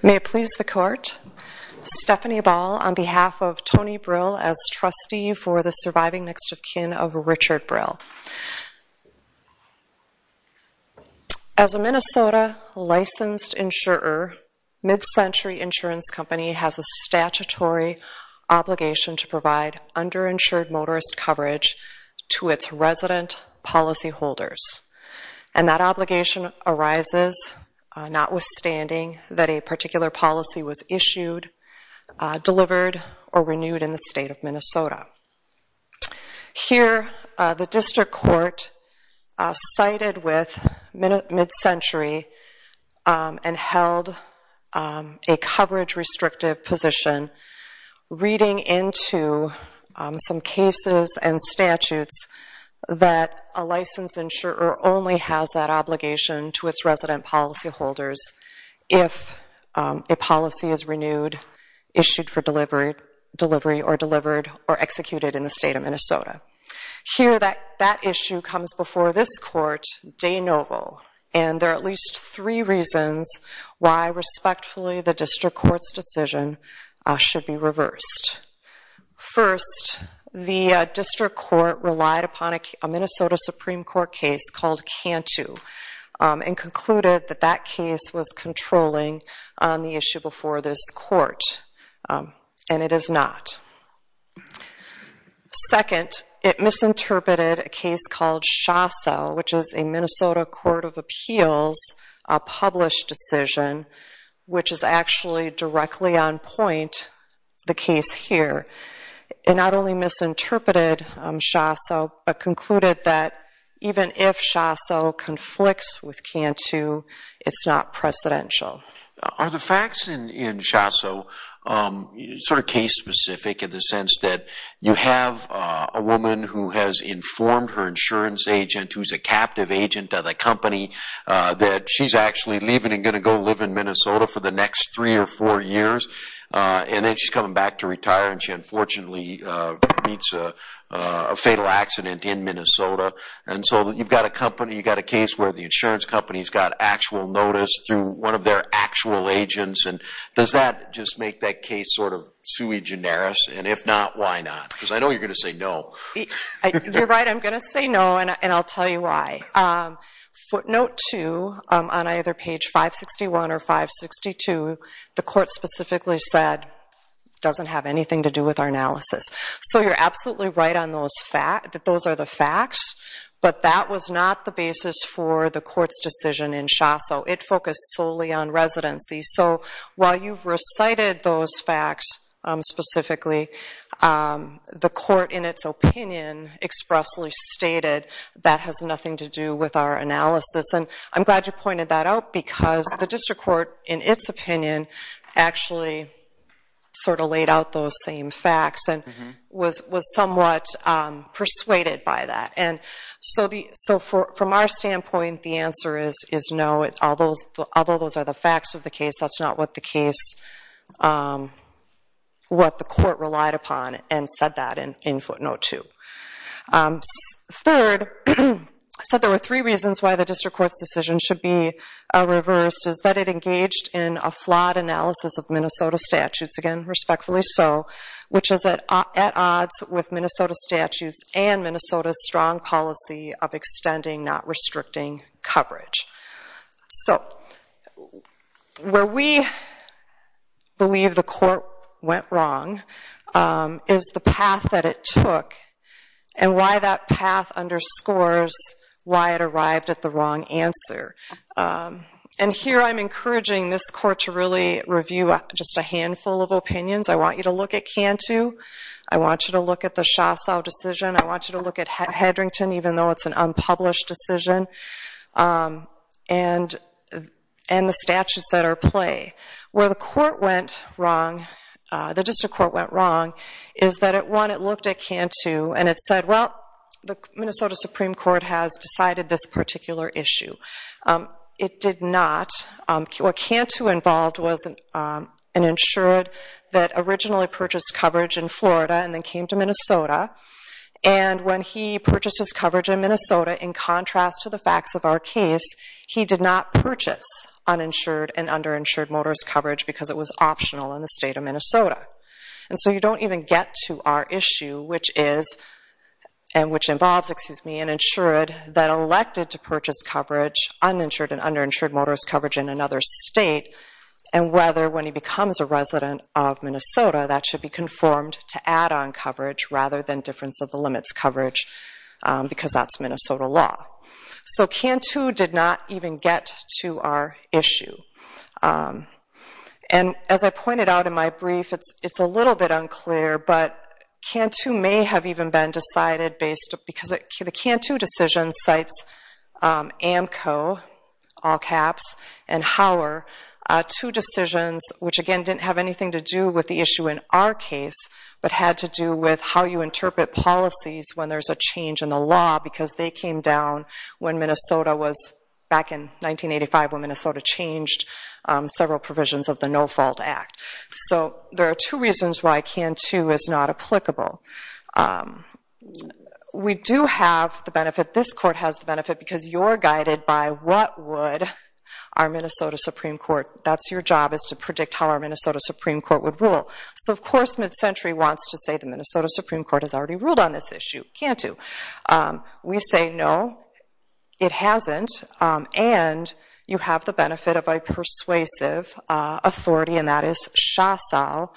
May it please the court, Stephanie Ball on behalf of Tony Brill as trustee for the surviving next of kin of Richard Brill. As a Minnesota licensed insurer, Mid-Century Insurance Company has a statutory obligation to provide underinsured motorist coverage to its resident policyholders, and that obligation arises notwithstanding that a particular policy was issued, delivered, or renewed in the state of Minnesota. Here the district court sided with Mid-Century and held a coverage-restrictive position reading into some cases and statutes that a licensed insurer only has that obligation to its resident policyholders if a policy is renewed, issued for delivery, or delivered or executed in the state of Minnesota. Here that issue comes before this court de novo, and there are at least three reasons why respectfully the district court's decision should be reversed. First, the district court relied upon a Minnesota Supreme Court case called Cantu and concluded that that case was controlling on the issue before this court, and it is not. Second, it misinterpreted a case called Shasa, which is a Minnesota court of appeals published decision, which is actually directly on point, the case here. It not only misinterpreted Shasa, but concluded that even if Shasa conflicts with Cantu, it's not precedential. Are the facts in Shasa sort of case-specific in the sense that you have a woman who has informed her insurance agent, who's a captive agent of the company, that she's actually leaving and going to go live in Minnesota for the next three or four years, and then she's coming back to retire, and she unfortunately meets a fatal accident in Minnesota. And so you've got a case where the insurance company's got actual notice through one of their actual agents, and does that just make that case sort of sui generis, and if not, why not? Because I know you're going to say no. You're right, I'm going to say no, and I'll tell you why. Footnote two, on either page 561 or 562, the court specifically said, doesn't have anything to do with our analysis. So you're absolutely right on those facts, that those are the facts, but that was not the basis for the court's decision in Shasa. It focused solely on residency. So while you've recited those facts specifically, the court, in its opinion, expressly stated that has nothing to do with our analysis. And I'm glad you pointed that out, because the district court, in its opinion, actually sort of laid out those same facts, and was somewhat persuaded by that. And so from our standpoint, the answer is no, although those are the facts of the case, that's not what the case, what the court relied upon and said that in footnote two. Third, I said there were three reasons why the district court's decision should be reversed, is that it engaged in a flawed analysis of Minnesota statutes, again, respectfully so, which is at odds with Minnesota statutes and Minnesota's strong policy of extending, not restricting coverage. So where we believe the court went wrong is the path that it took, and why that path underscores why it arrived at the wrong answer. And here I'm encouraging this court to really review just a handful of opinions. I want you to look at Cantu. I want you to look at the Shasa decision. I want you to look at Hedrington, even though it's an unpublished decision, and the statutes that are at play. Where the court went wrong, the district court went wrong, is that it, one, it looked at Cantu and it said, well, the Minnesota Supreme Court has decided this particular issue. It did not. What Cantu involved was an insured that originally purchased coverage in Florida and then came to Minnesota. And when he purchased his coverage in Minnesota, in contrast to the facts of our case, he did not purchase uninsured and underinsured motorist coverage because it was optional in the state of Minnesota. And so you don't even get to our issue, which is, and which involves, excuse me, an insured that elected to purchase coverage, uninsured and underinsured motorist coverage in another state, and whether, when he becomes a resident of Minnesota, that should be conformed to land-on coverage rather than difference-of-the-limits coverage because that's Minnesota law. So Cantu did not even get to our issue. And as I pointed out in my brief, it's a little bit unclear, but Cantu may have even been decided based, because the Cantu decision cites AMCO, all caps, and Hauer, two decisions which, again, didn't have anything to do with the issue in our case, but had to do with how you interpret policies when there's a change in the law because they came down when Minnesota was, back in 1985, when Minnesota changed several provisions of the No-Fault Act. So there are two reasons why Cantu is not applicable. We do have the benefit, this court has the benefit, because you're guided by what would our Minnesota Supreme Court. That's your job, is to predict how our Minnesota Supreme Court would rule. So of course MidCentury wants to say the Minnesota Supreme Court has already ruled on this issue, Cantu. We say no, it hasn't, and you have the benefit of a persuasive authority, and that is SHASAL,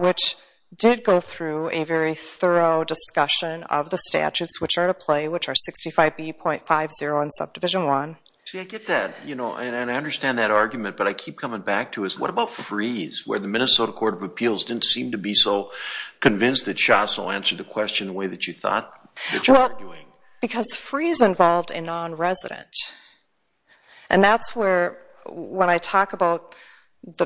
which did go through a very thorough discussion of the statutes which are to play, which are 65B.50 in Subdivision 1. See, I get that, and I understand that argument, but I keep coming back to it. What about Freeze, where the Minnesota Court of Appeals didn't seem to be so convinced that SHASAL answered the question the way that you thought that you were arguing? Because Freeze involved a non-resident, and that's where, when I talk about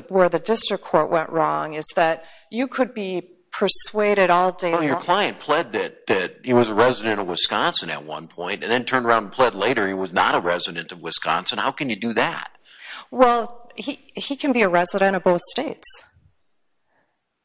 where the district court went wrong, is that you could be persuaded all day long. Well, your client pled that he was a resident of Wisconsin at one point, and then turned around and pled later he was not a resident of Wisconsin. How can you do that? Well, he can be a resident of both states.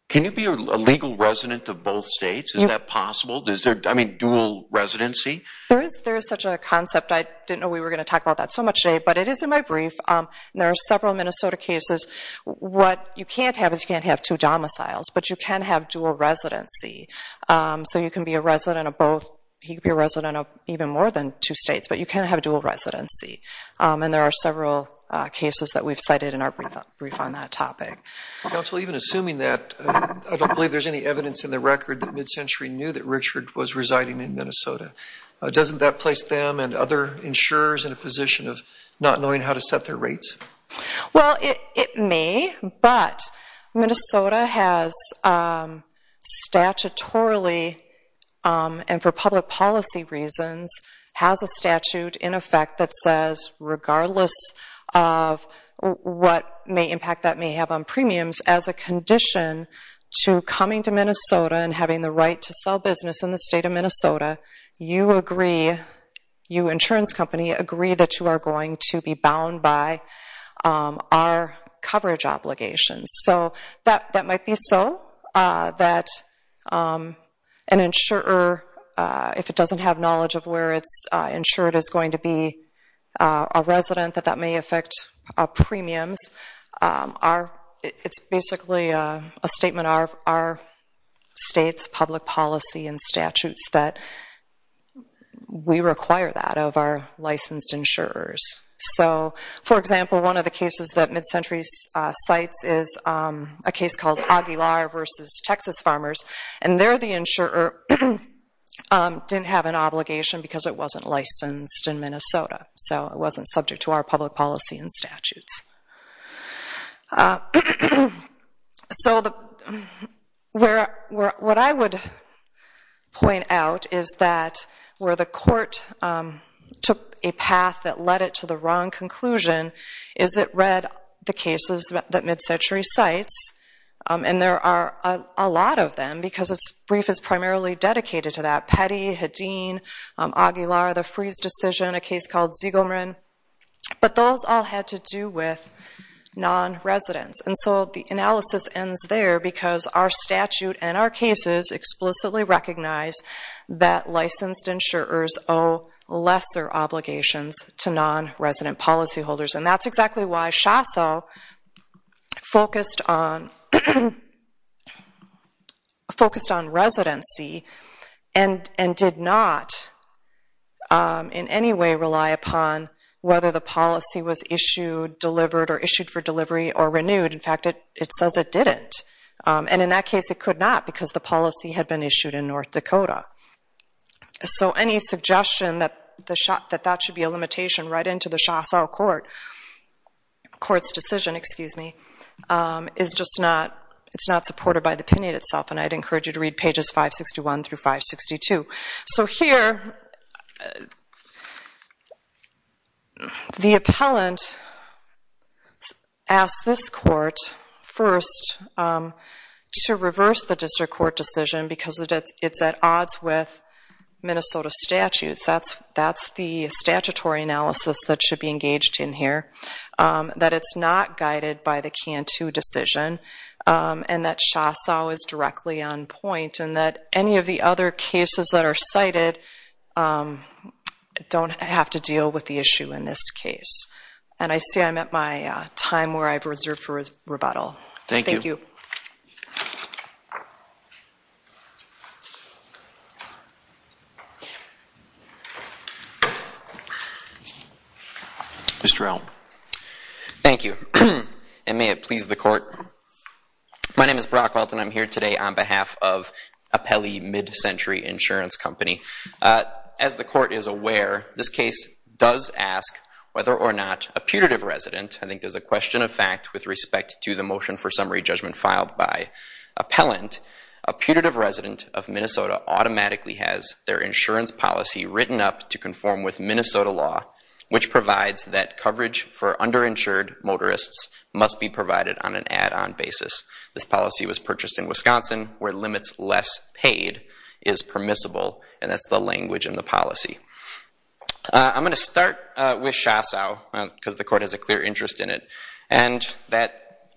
Can you be a legal resident of both states? Is that possible? Is there, I mean, dual residency? There's such a concept. I didn't know we were going to talk about that so much today, but it is in my brief. There are several Minnesota cases. What you can't have is you can't have two domiciles, but you can have dual residency. So you can be a resident of both, he can be a resident of even more than two states, but you can't have dual residency. And there are several cases that we've cited in our brief on that topic. Counsel, even assuming that, I don't believe there's any evidence in the record that MidCentury knew that Richard was residing in Minnesota. Doesn't that place them and other insurers in a position of not knowing how to set their rates? Well, it may, but Minnesota has statutorily, and for public policy reasons, has a statute in effect that says regardless of what impact that may have on premiums, as a condition to coming to Minnesota and having the right to sell business in the state of Minnesota, you agree, you insurance company agree that you are going to be bound by our coverage obligations. So that might be so, that an insurer, if it doesn't have knowledge of where it's insured is going to be a resident, that that may affect our premiums. It's basically a statement of our state's public policy and statutes that we require that of our licensed insurers. So for example, one of the cases that MidCentury cites is a case called Aguilar v. Texas Farmers, and there the insurer didn't have an obligation because it wasn't licensed in Minnesota. So it wasn't subject to our public policy and statutes. So what I would point out is that where the court took a path that led it to the wrong conclusion is it read the cases that MidCentury cites, and there are a lot of them, because its brief is primarily dedicated to that, Petty, Hedin, Aguilar, the freeze decision, and a case called Ziegelman, but those all had to do with non-residents. And so the analysis ends there because our statute and our cases explicitly recognize that licensed insurers owe lesser obligations to non-resident policyholders, and that's a way to rely upon whether the policy was issued, delivered, or issued for delivery, or renewed. In fact, it says it didn't, and in that case it could not because the policy had been issued in North Dakota. So any suggestion that that should be a limitation right into the chasseau court's decision is just not supported by the pinnate itself, and I'd encourage you to read pages 561-562. So here, the appellant asks this court first to reverse the district court decision because it's at odds with Minnesota statutes. That's the statutory analysis that should be engaged in here, that it's not guided by the CANTU decision, and that chasseau is directly on point, and that any of the other cases that are cited don't have to deal with the issue in this case. And I see I'm at my time where I've reserved for rebuttal. Thank you. Thank you. Mr. Elm. Thank you, and may it please the court. My name is Brock Walton. I'm here today on behalf of Appelli Mid-Century Insurance Company. As the court is aware, this case does ask whether or not a putative resident, I think there's a question of fact with respect to the motion for summary judgment filed by appellant, a putative resident of Minnesota automatically has their insurance policy written up to conform with Minnesota law, which provides that coverage for underinsured motorists must be provided on an add-on basis. This policy was purchased in Wisconsin, where limits less paid is permissible, and that's the language in the policy. I'm going to start with chasseau, because the court has a clear interest in it, and that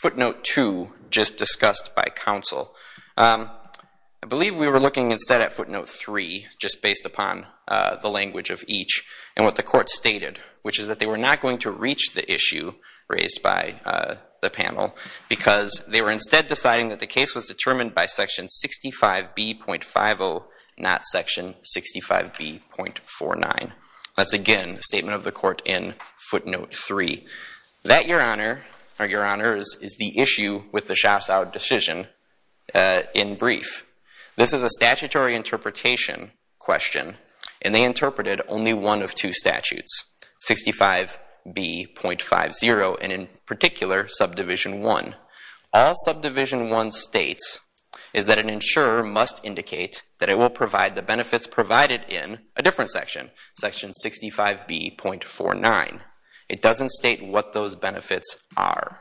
footnote two just discussed by counsel. I believe we were looking instead at footnote three, just based upon the language of each, and what the court stated, which is that they were not going to reach the issue raised by the panel, because they were instead deciding that the case was determined by section 65B.50, not section 65B.49. That's again a statement of the court in footnote three. That, your honor, or your honors, is the issue with the chasseau decision in brief. This is a statutory interpretation question, and they interpreted only one of two statutes, 65B.50, and in particular subdivision one. All subdivision one states is that an insurer must indicate that it will provide the benefits provided in a different section, section 65B.49. It doesn't state what those benefits are.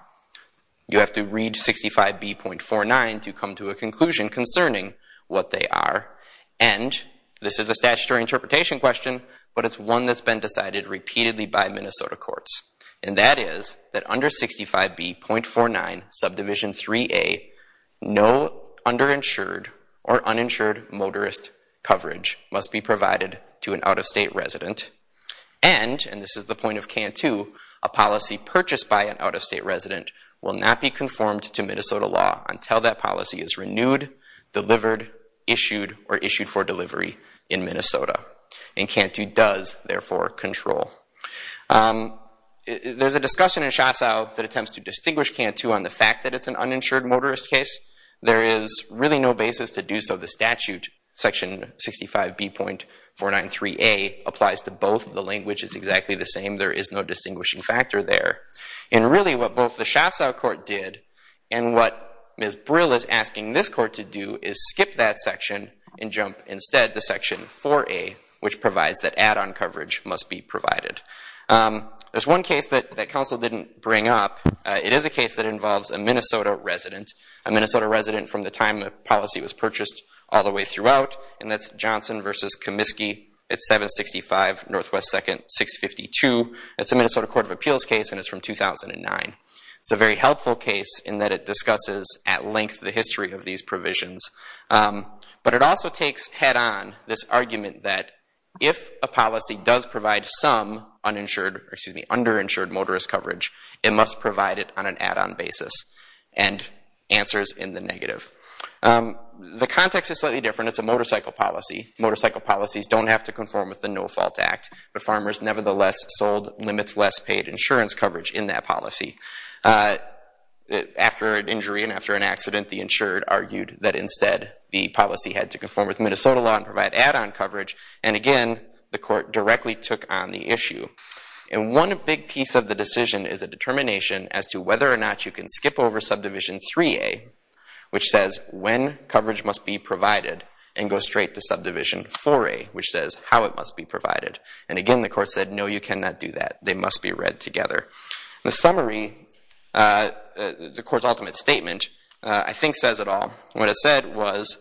You have to read 65B.49 to come to a conclusion concerning what they are, and this is a statutory interpretation question, but it's one that's been decided repeatedly by Minnesota courts, and that is that under 65B.49 subdivision 3A, no underinsured or uninsured motorist coverage must be provided to an out-of-state resident, and, and this is the point of canto, a policy purchased by an out-of-state resident will not be conformed to Minnesota law until that policy is renewed, delivered, issued, or issued for delivery in Minnesota, and canto does, therefore, control. There's a discussion in chasseau that attempts to distinguish canto on the fact that it's an uninsured motorist case. There is really no basis to do so. The statute, section 65B.49.3A, applies to both. The language is exactly the same. There is no distinguishing factor there, and really what both the chasseau court did and what Ms. Brill is asking this court to do is skip that section and jump instead to section 4A, which provides that add-on coverage must be provided. There's one case that, that counsel didn't bring up. It is a case that involves a Minnesota resident, a Minnesota resident from the time the policy was purchased all the way throughout, and that's Johnson v. Comiskey at 765 NW 2nd 652. It's a Minnesota Court of Appeals case, and it's from 2009. It's a very helpful case in that it discusses at length the history of these provisions, but it also takes head-on this argument that if a policy does provide some uninsured, excuse me, underinsured motorist coverage, it must provide it on an add-on basis, and answers in the negative. The context is slightly different. It's a motorcycle policy. Motorcycle policies don't have to conform with the No Fault Act, but farmers nevertheless sold limits less paid insurance coverage in that policy. After an injury and after an accident, the insured argued that instead the policy had to conform with Minnesota law and provide add-on coverage, and again, the court directly took on the issue. One big piece of the decision is a determination as to whether or not you can skip over subdivision 3A, which says when coverage must be provided, and go straight to subdivision 4A, which says how it must be provided. And again, the court said, no, you cannot do that. They must be read together. The summary, the court's ultimate statement, I think says it all. What it said was,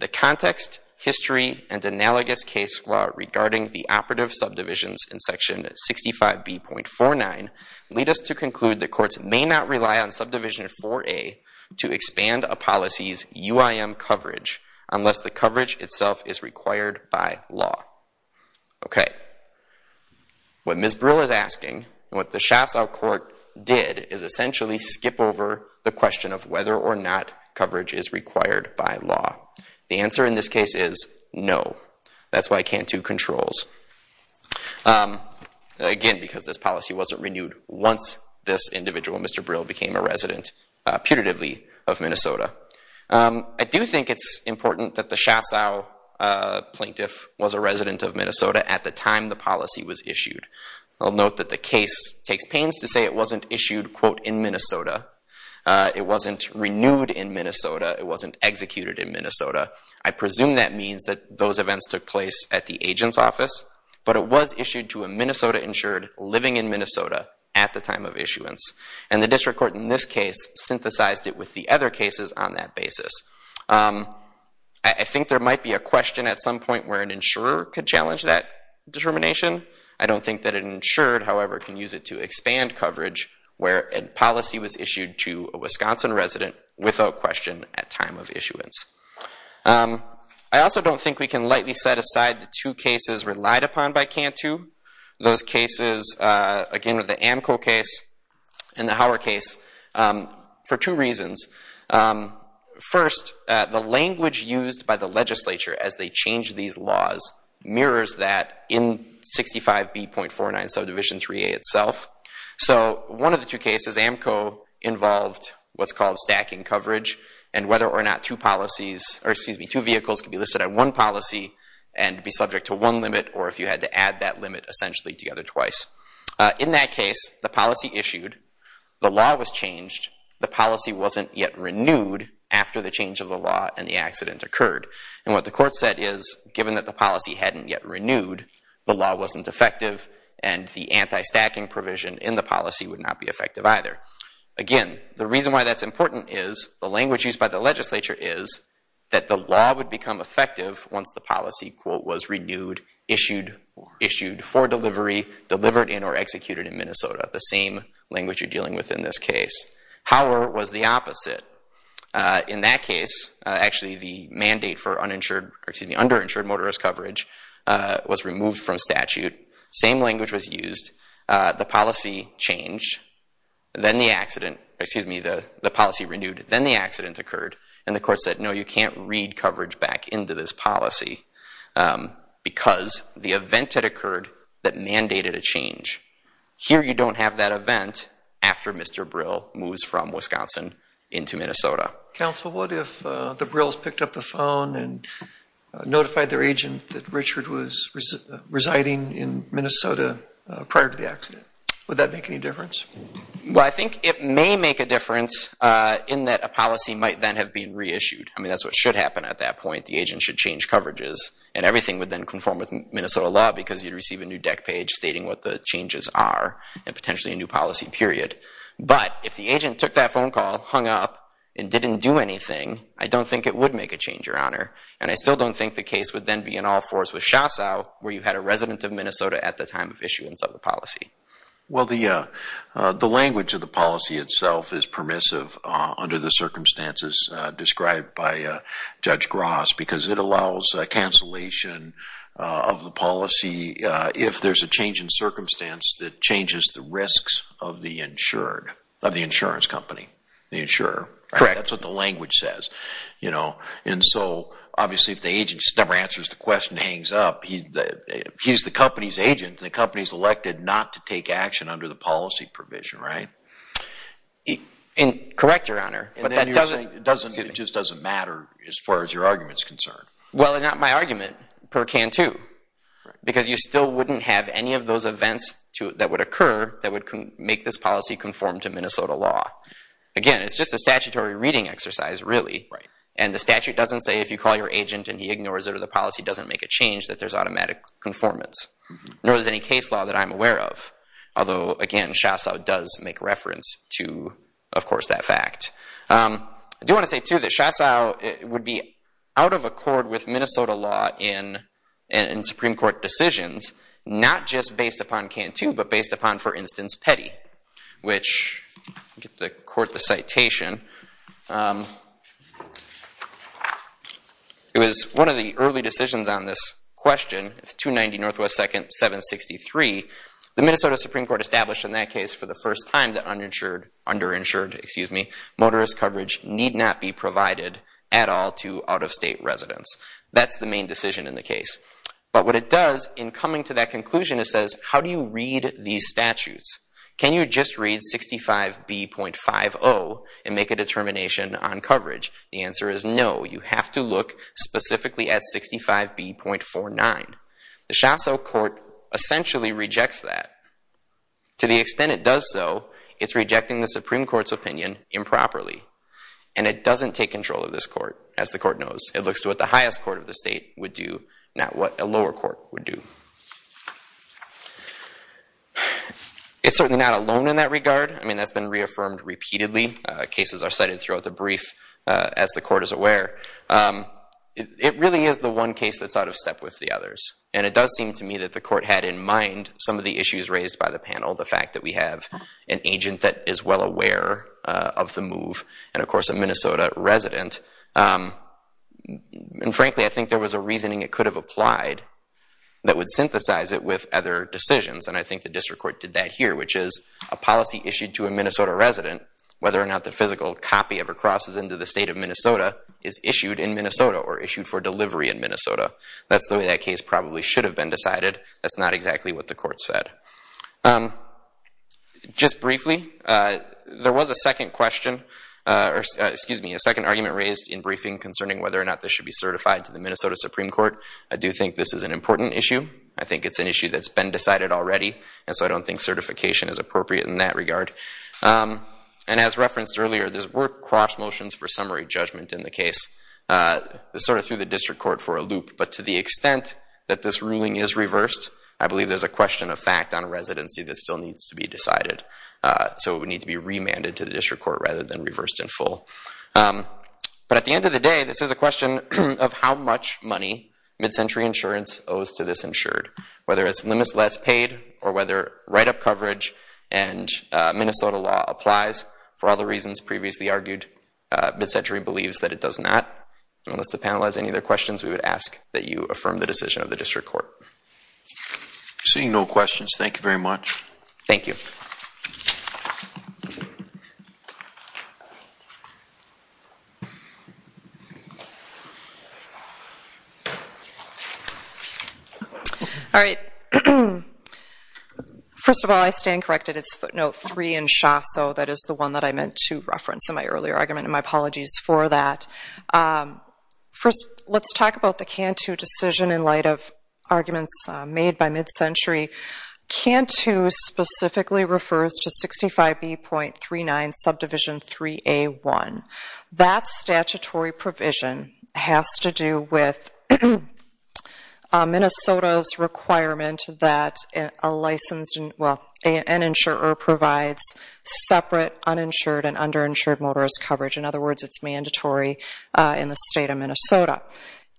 the context, history, and analogous case law regarding the operative subdivisions in section 65B.49 lead us to conclude that courts may not rely on subdivision 4A to expand a policy's UIM coverage unless the coverage itself is required by law. OK. What Ms. Brill is asking, and what the Shassau court did, is essentially skip over the question of whether or not coverage is required by law. The answer in this case is no. That's why I can't do controls, again, because this policy wasn't renewed once this individual, I do think it's important that the Shassau plaintiff was a resident of Minnesota at the time the policy was issued. I'll note that the case takes pains to say it wasn't issued, quote, in Minnesota. It wasn't renewed in Minnesota. It wasn't executed in Minnesota. I presume that means that those events took place at the agent's office, but it was issued to a Minnesota-insured living in Minnesota at the time of issuance. And the district court in this case synthesized it with the other cases on that basis. I think there might be a question at some point where an insurer could challenge that determination. I don't think that an insured, however, can use it to expand coverage where a policy was issued to a Wisconsin resident without question at time of issuance. I also don't think we can lightly set aside the two cases relied upon by CANTU. Those cases, again, with the AMCO case and the Hauer case, for two reasons. First, the language used by the legislature as they change these laws mirrors that in 65B.49 subdivision 3A itself. So one of the two cases, AMCO involved what's called stacking coverage, and whether or not two vehicles could be listed on one policy and be subject to one limit, or if you had to add that limit essentially together twice. In that case, the policy issued, the law was changed, the policy wasn't yet renewed after the change of the law and the accident occurred. And what the court said is, given that the policy hadn't yet renewed, the law wasn't effective, and the anti-stacking provision in the policy would not be effective either. Again, the reason why that's important is, the language used by the legislature is, that the law would become effective once the policy, quote, was renewed, issued for delivery, delivered in, or executed in Minnesota, the same language you're dealing with in this case. Hauer was the opposite. In that case, actually the mandate for underinsured motorist coverage was removed from statute, same language was used, the policy changed, then the accident, excuse me, the policy renewed, then the accident occurred, and the court said, no, you can't read coverage back into this policy, because the event had occurred that mandated a change. Here you don't have that event after Mr. Brill moves from Wisconsin into Minnesota. Counsel, what if the Brills picked up the phone and notified their agent that Richard was residing in Minnesota prior to the accident, would that make any difference? Well, I think it may make a difference in that a policy might then have been reissued. I mean, that's what should happen at that point. The agent should change coverages, and everything would then conform with Minnesota law, because you'd receive a new deck page stating what the changes are, and potentially a new policy, period. But, if the agent took that phone call, hung up, and didn't do anything, I don't think it would make a change, Your Honor, and I still don't think the case would then be in all fours with Shassow, where you had a resident of Minnesota at the time of issuance of the policy. Well, the language of the policy itself is permissive under the circumstances described by Judge Gross, because it allows cancellation of the policy if there's a change in circumstance that changes the risks of the insured, of the insurance company, the insurer. Correct. That's what the language says. You know, and so, obviously, if the agent never answers the question and hangs up, he's the company's agent, and the company's elected not to take action under the policy provision, right? Correct, Your Honor, but that doesn't... And then you're saying it just doesn't matter as far as your argument's concerned. Well, not my argument, but it can, too, because you still wouldn't have any of those events that would occur that would make this policy conform to Minnesota law. Again, it's just a statutory reading exercise, really, and the statute doesn't say if you call your agent and he ignores it or the policy doesn't make a change that there's automatic conformance, nor is there any case law that I'm aware of, although, again, SHASA does make reference to, of course, that fact. I do want to say, too, that SHASA would be out of accord with Minnesota law in Supreme Court decisions, not just based upon CANTU, but based upon, for instance, Petty, which, let me get the court the citation. It was one of the early decisions on this question, it's 290 NW 2nd 763, the Minnesota Supreme Court established in that case for the first time that underinsured motorist coverage need not be provided at all to out-of-state residents. That's the main decision in the case. But what it does in coming to that conclusion, it says, how do you read these statutes? Can you just read 65B.50 and make a determination on coverage? The answer is no. You have to look specifically at 65B.49. The SHASA court essentially rejects that. To the extent it does so, it's rejecting the Supreme Court's opinion improperly. And it doesn't take control of this court, as the court knows. It looks to what the highest court of the state would do, not what a lower court would do. It's certainly not alone in that regard. I mean, that's been reaffirmed repeatedly. Cases are cited throughout the brief, as the court is aware. It really is the one case that's out of step with the others. And it does seem to me that the court had in mind some of the issues raised by the panel, the fact that we have an agent that is well aware of the move, and of course, a Minnesota resident. And frankly, I think there was a reasoning it could have applied that would synthesize it with other decisions. And I think the district court did that here, which is a policy issued to a Minnesota resident, whether or not the physical copy of a cross is into the state of Minnesota, is issued in Minnesota, or issued for delivery in Minnesota. That's the way that case probably should have been decided. That's not exactly what the court said. Just briefly, there was a second question, or excuse me, a second argument raised in briefing concerning whether or not this should be certified to the Minnesota Supreme Court. I do think this is an important issue. I think it's an issue that's been decided already, and so I don't think certification is appropriate in that regard. And as referenced earlier, there were cross motions for summary judgment in the case, sort of through the district court for a loop. But to the extent that this ruling is reversed, I believe there's a question of fact on residency that still needs to be decided. So it would need to be remanded to the district court rather than reversed in full. But at the end of the day, this is a question of how much money Mid-Century Insurance owes to this insured, whether it's limitless paid, or whether write-up coverage and Minnesota law applies. For all the reasons previously argued, Mid-Century believes that it does not. And unless the panel has any other questions, we would ask that you affirm the decision of the district court. Seeing no questions, thank you very much. Thank you. All right. First of all, I stand corrected. It's footnote three in SHASO. That is the one that I meant to reference in my earlier argument, and my apologies for that. First, let's talk about the CANTU decision in light of arguments made by Mid-Century. CANTU specifically refers to 65B.39 Subdivision 3A.1. That statutory provision has to do with Minnesota's requirement that an insurer provides separate uninsured and underinsured motorist coverage. In other words, it's mandatory in the state of Minnesota.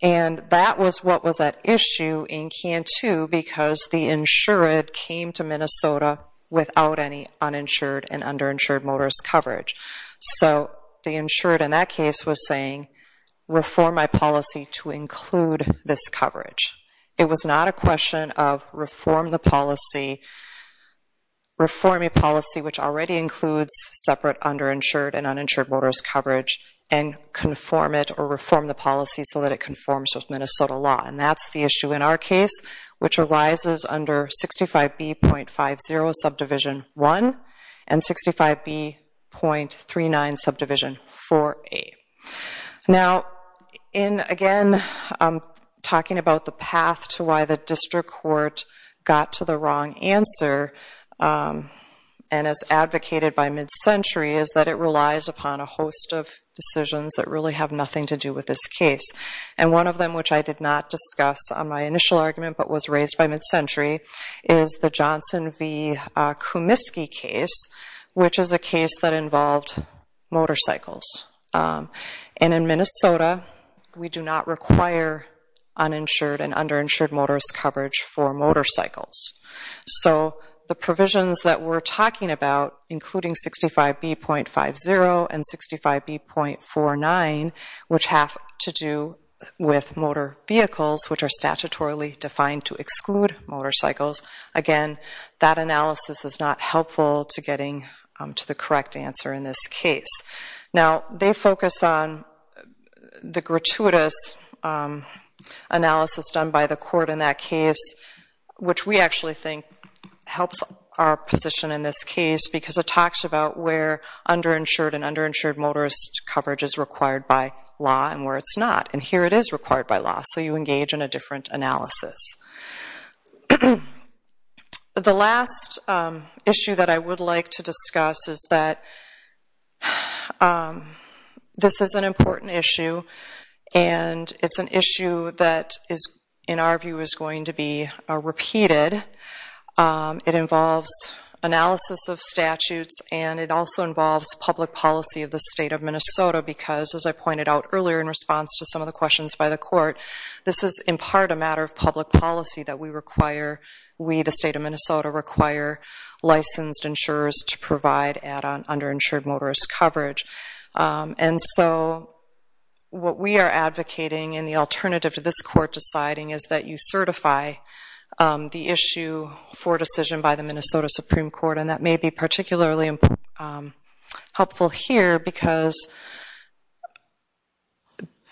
And that was what was at issue in CANTU because the insured came to Minnesota without any uninsured and underinsured motorist coverage. So the insured in that case was saying, reform my policy to include this coverage. It was not a question of reform the policy, reform a policy which already includes separate underinsured and uninsured motorist coverage, and conform it or reform the policy so that it conforms with Minnesota law. And that's the issue in our case, which arises under 65B.50 Subdivision 1 and 65B.39 Subdivision 4A. Now in, again, talking about the path to why the district court got to the wrong answer, and has advocated by mid-century, is that it relies upon a host of decisions that really have nothing to do with this case. And one of them, which I did not discuss on my initial argument but was raised by mid-century, is the Johnson v. Kumiski case, which is a case that involved motorcycles. And in Minnesota, we do not require uninsured and underinsured motorist coverage for motorcycles. So the provisions that we're talking about, including 65B.50 and 65B.49, which have to do with motor vehicles, which are statutorily defined to exclude motorcycles, again, that analysis is not helpful to getting to the correct answer in this case. Now, they focus on the gratuitous analysis done by the court in that case, which we actually think helps our position in this case, because it talks about where underinsured and underinsured motorist coverage is required by law and where it's not. And here it is required by law, so you engage in a different analysis. The last issue that I would like to discuss is that this is an important issue, and it's an issue that is, in our view, is going to be repeated. It involves analysis of statutes, and it also involves public policy of the state of Minnesota, because, as I pointed out earlier in response to some of the questions by the court, this is in part a matter of public policy that we require, we, the state of Minnesota, require licensed insurers to provide add-on underinsured motorist coverage. And so what we are advocating, and the alternative to this court deciding, is that you certify the issue for decision by the Minnesota Supreme Court, and that may be particularly helpful here, because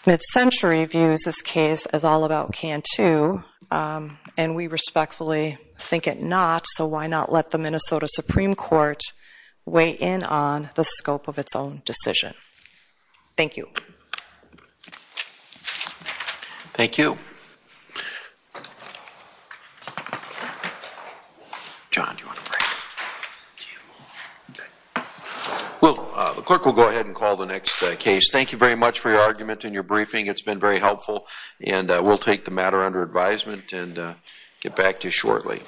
Mid-Century views this case as all about can-too, and we respectfully think it not, so why not let the Minnesota Supreme Court weigh in on the scope of its own decision? Thank you. Thank you. John, do you want to break? Do you? OK. Well, the clerk will go ahead and call the next case. Thank you very much for your argument and your briefing. It's been very helpful, and we'll take the matter under advisement and get back to you shortly.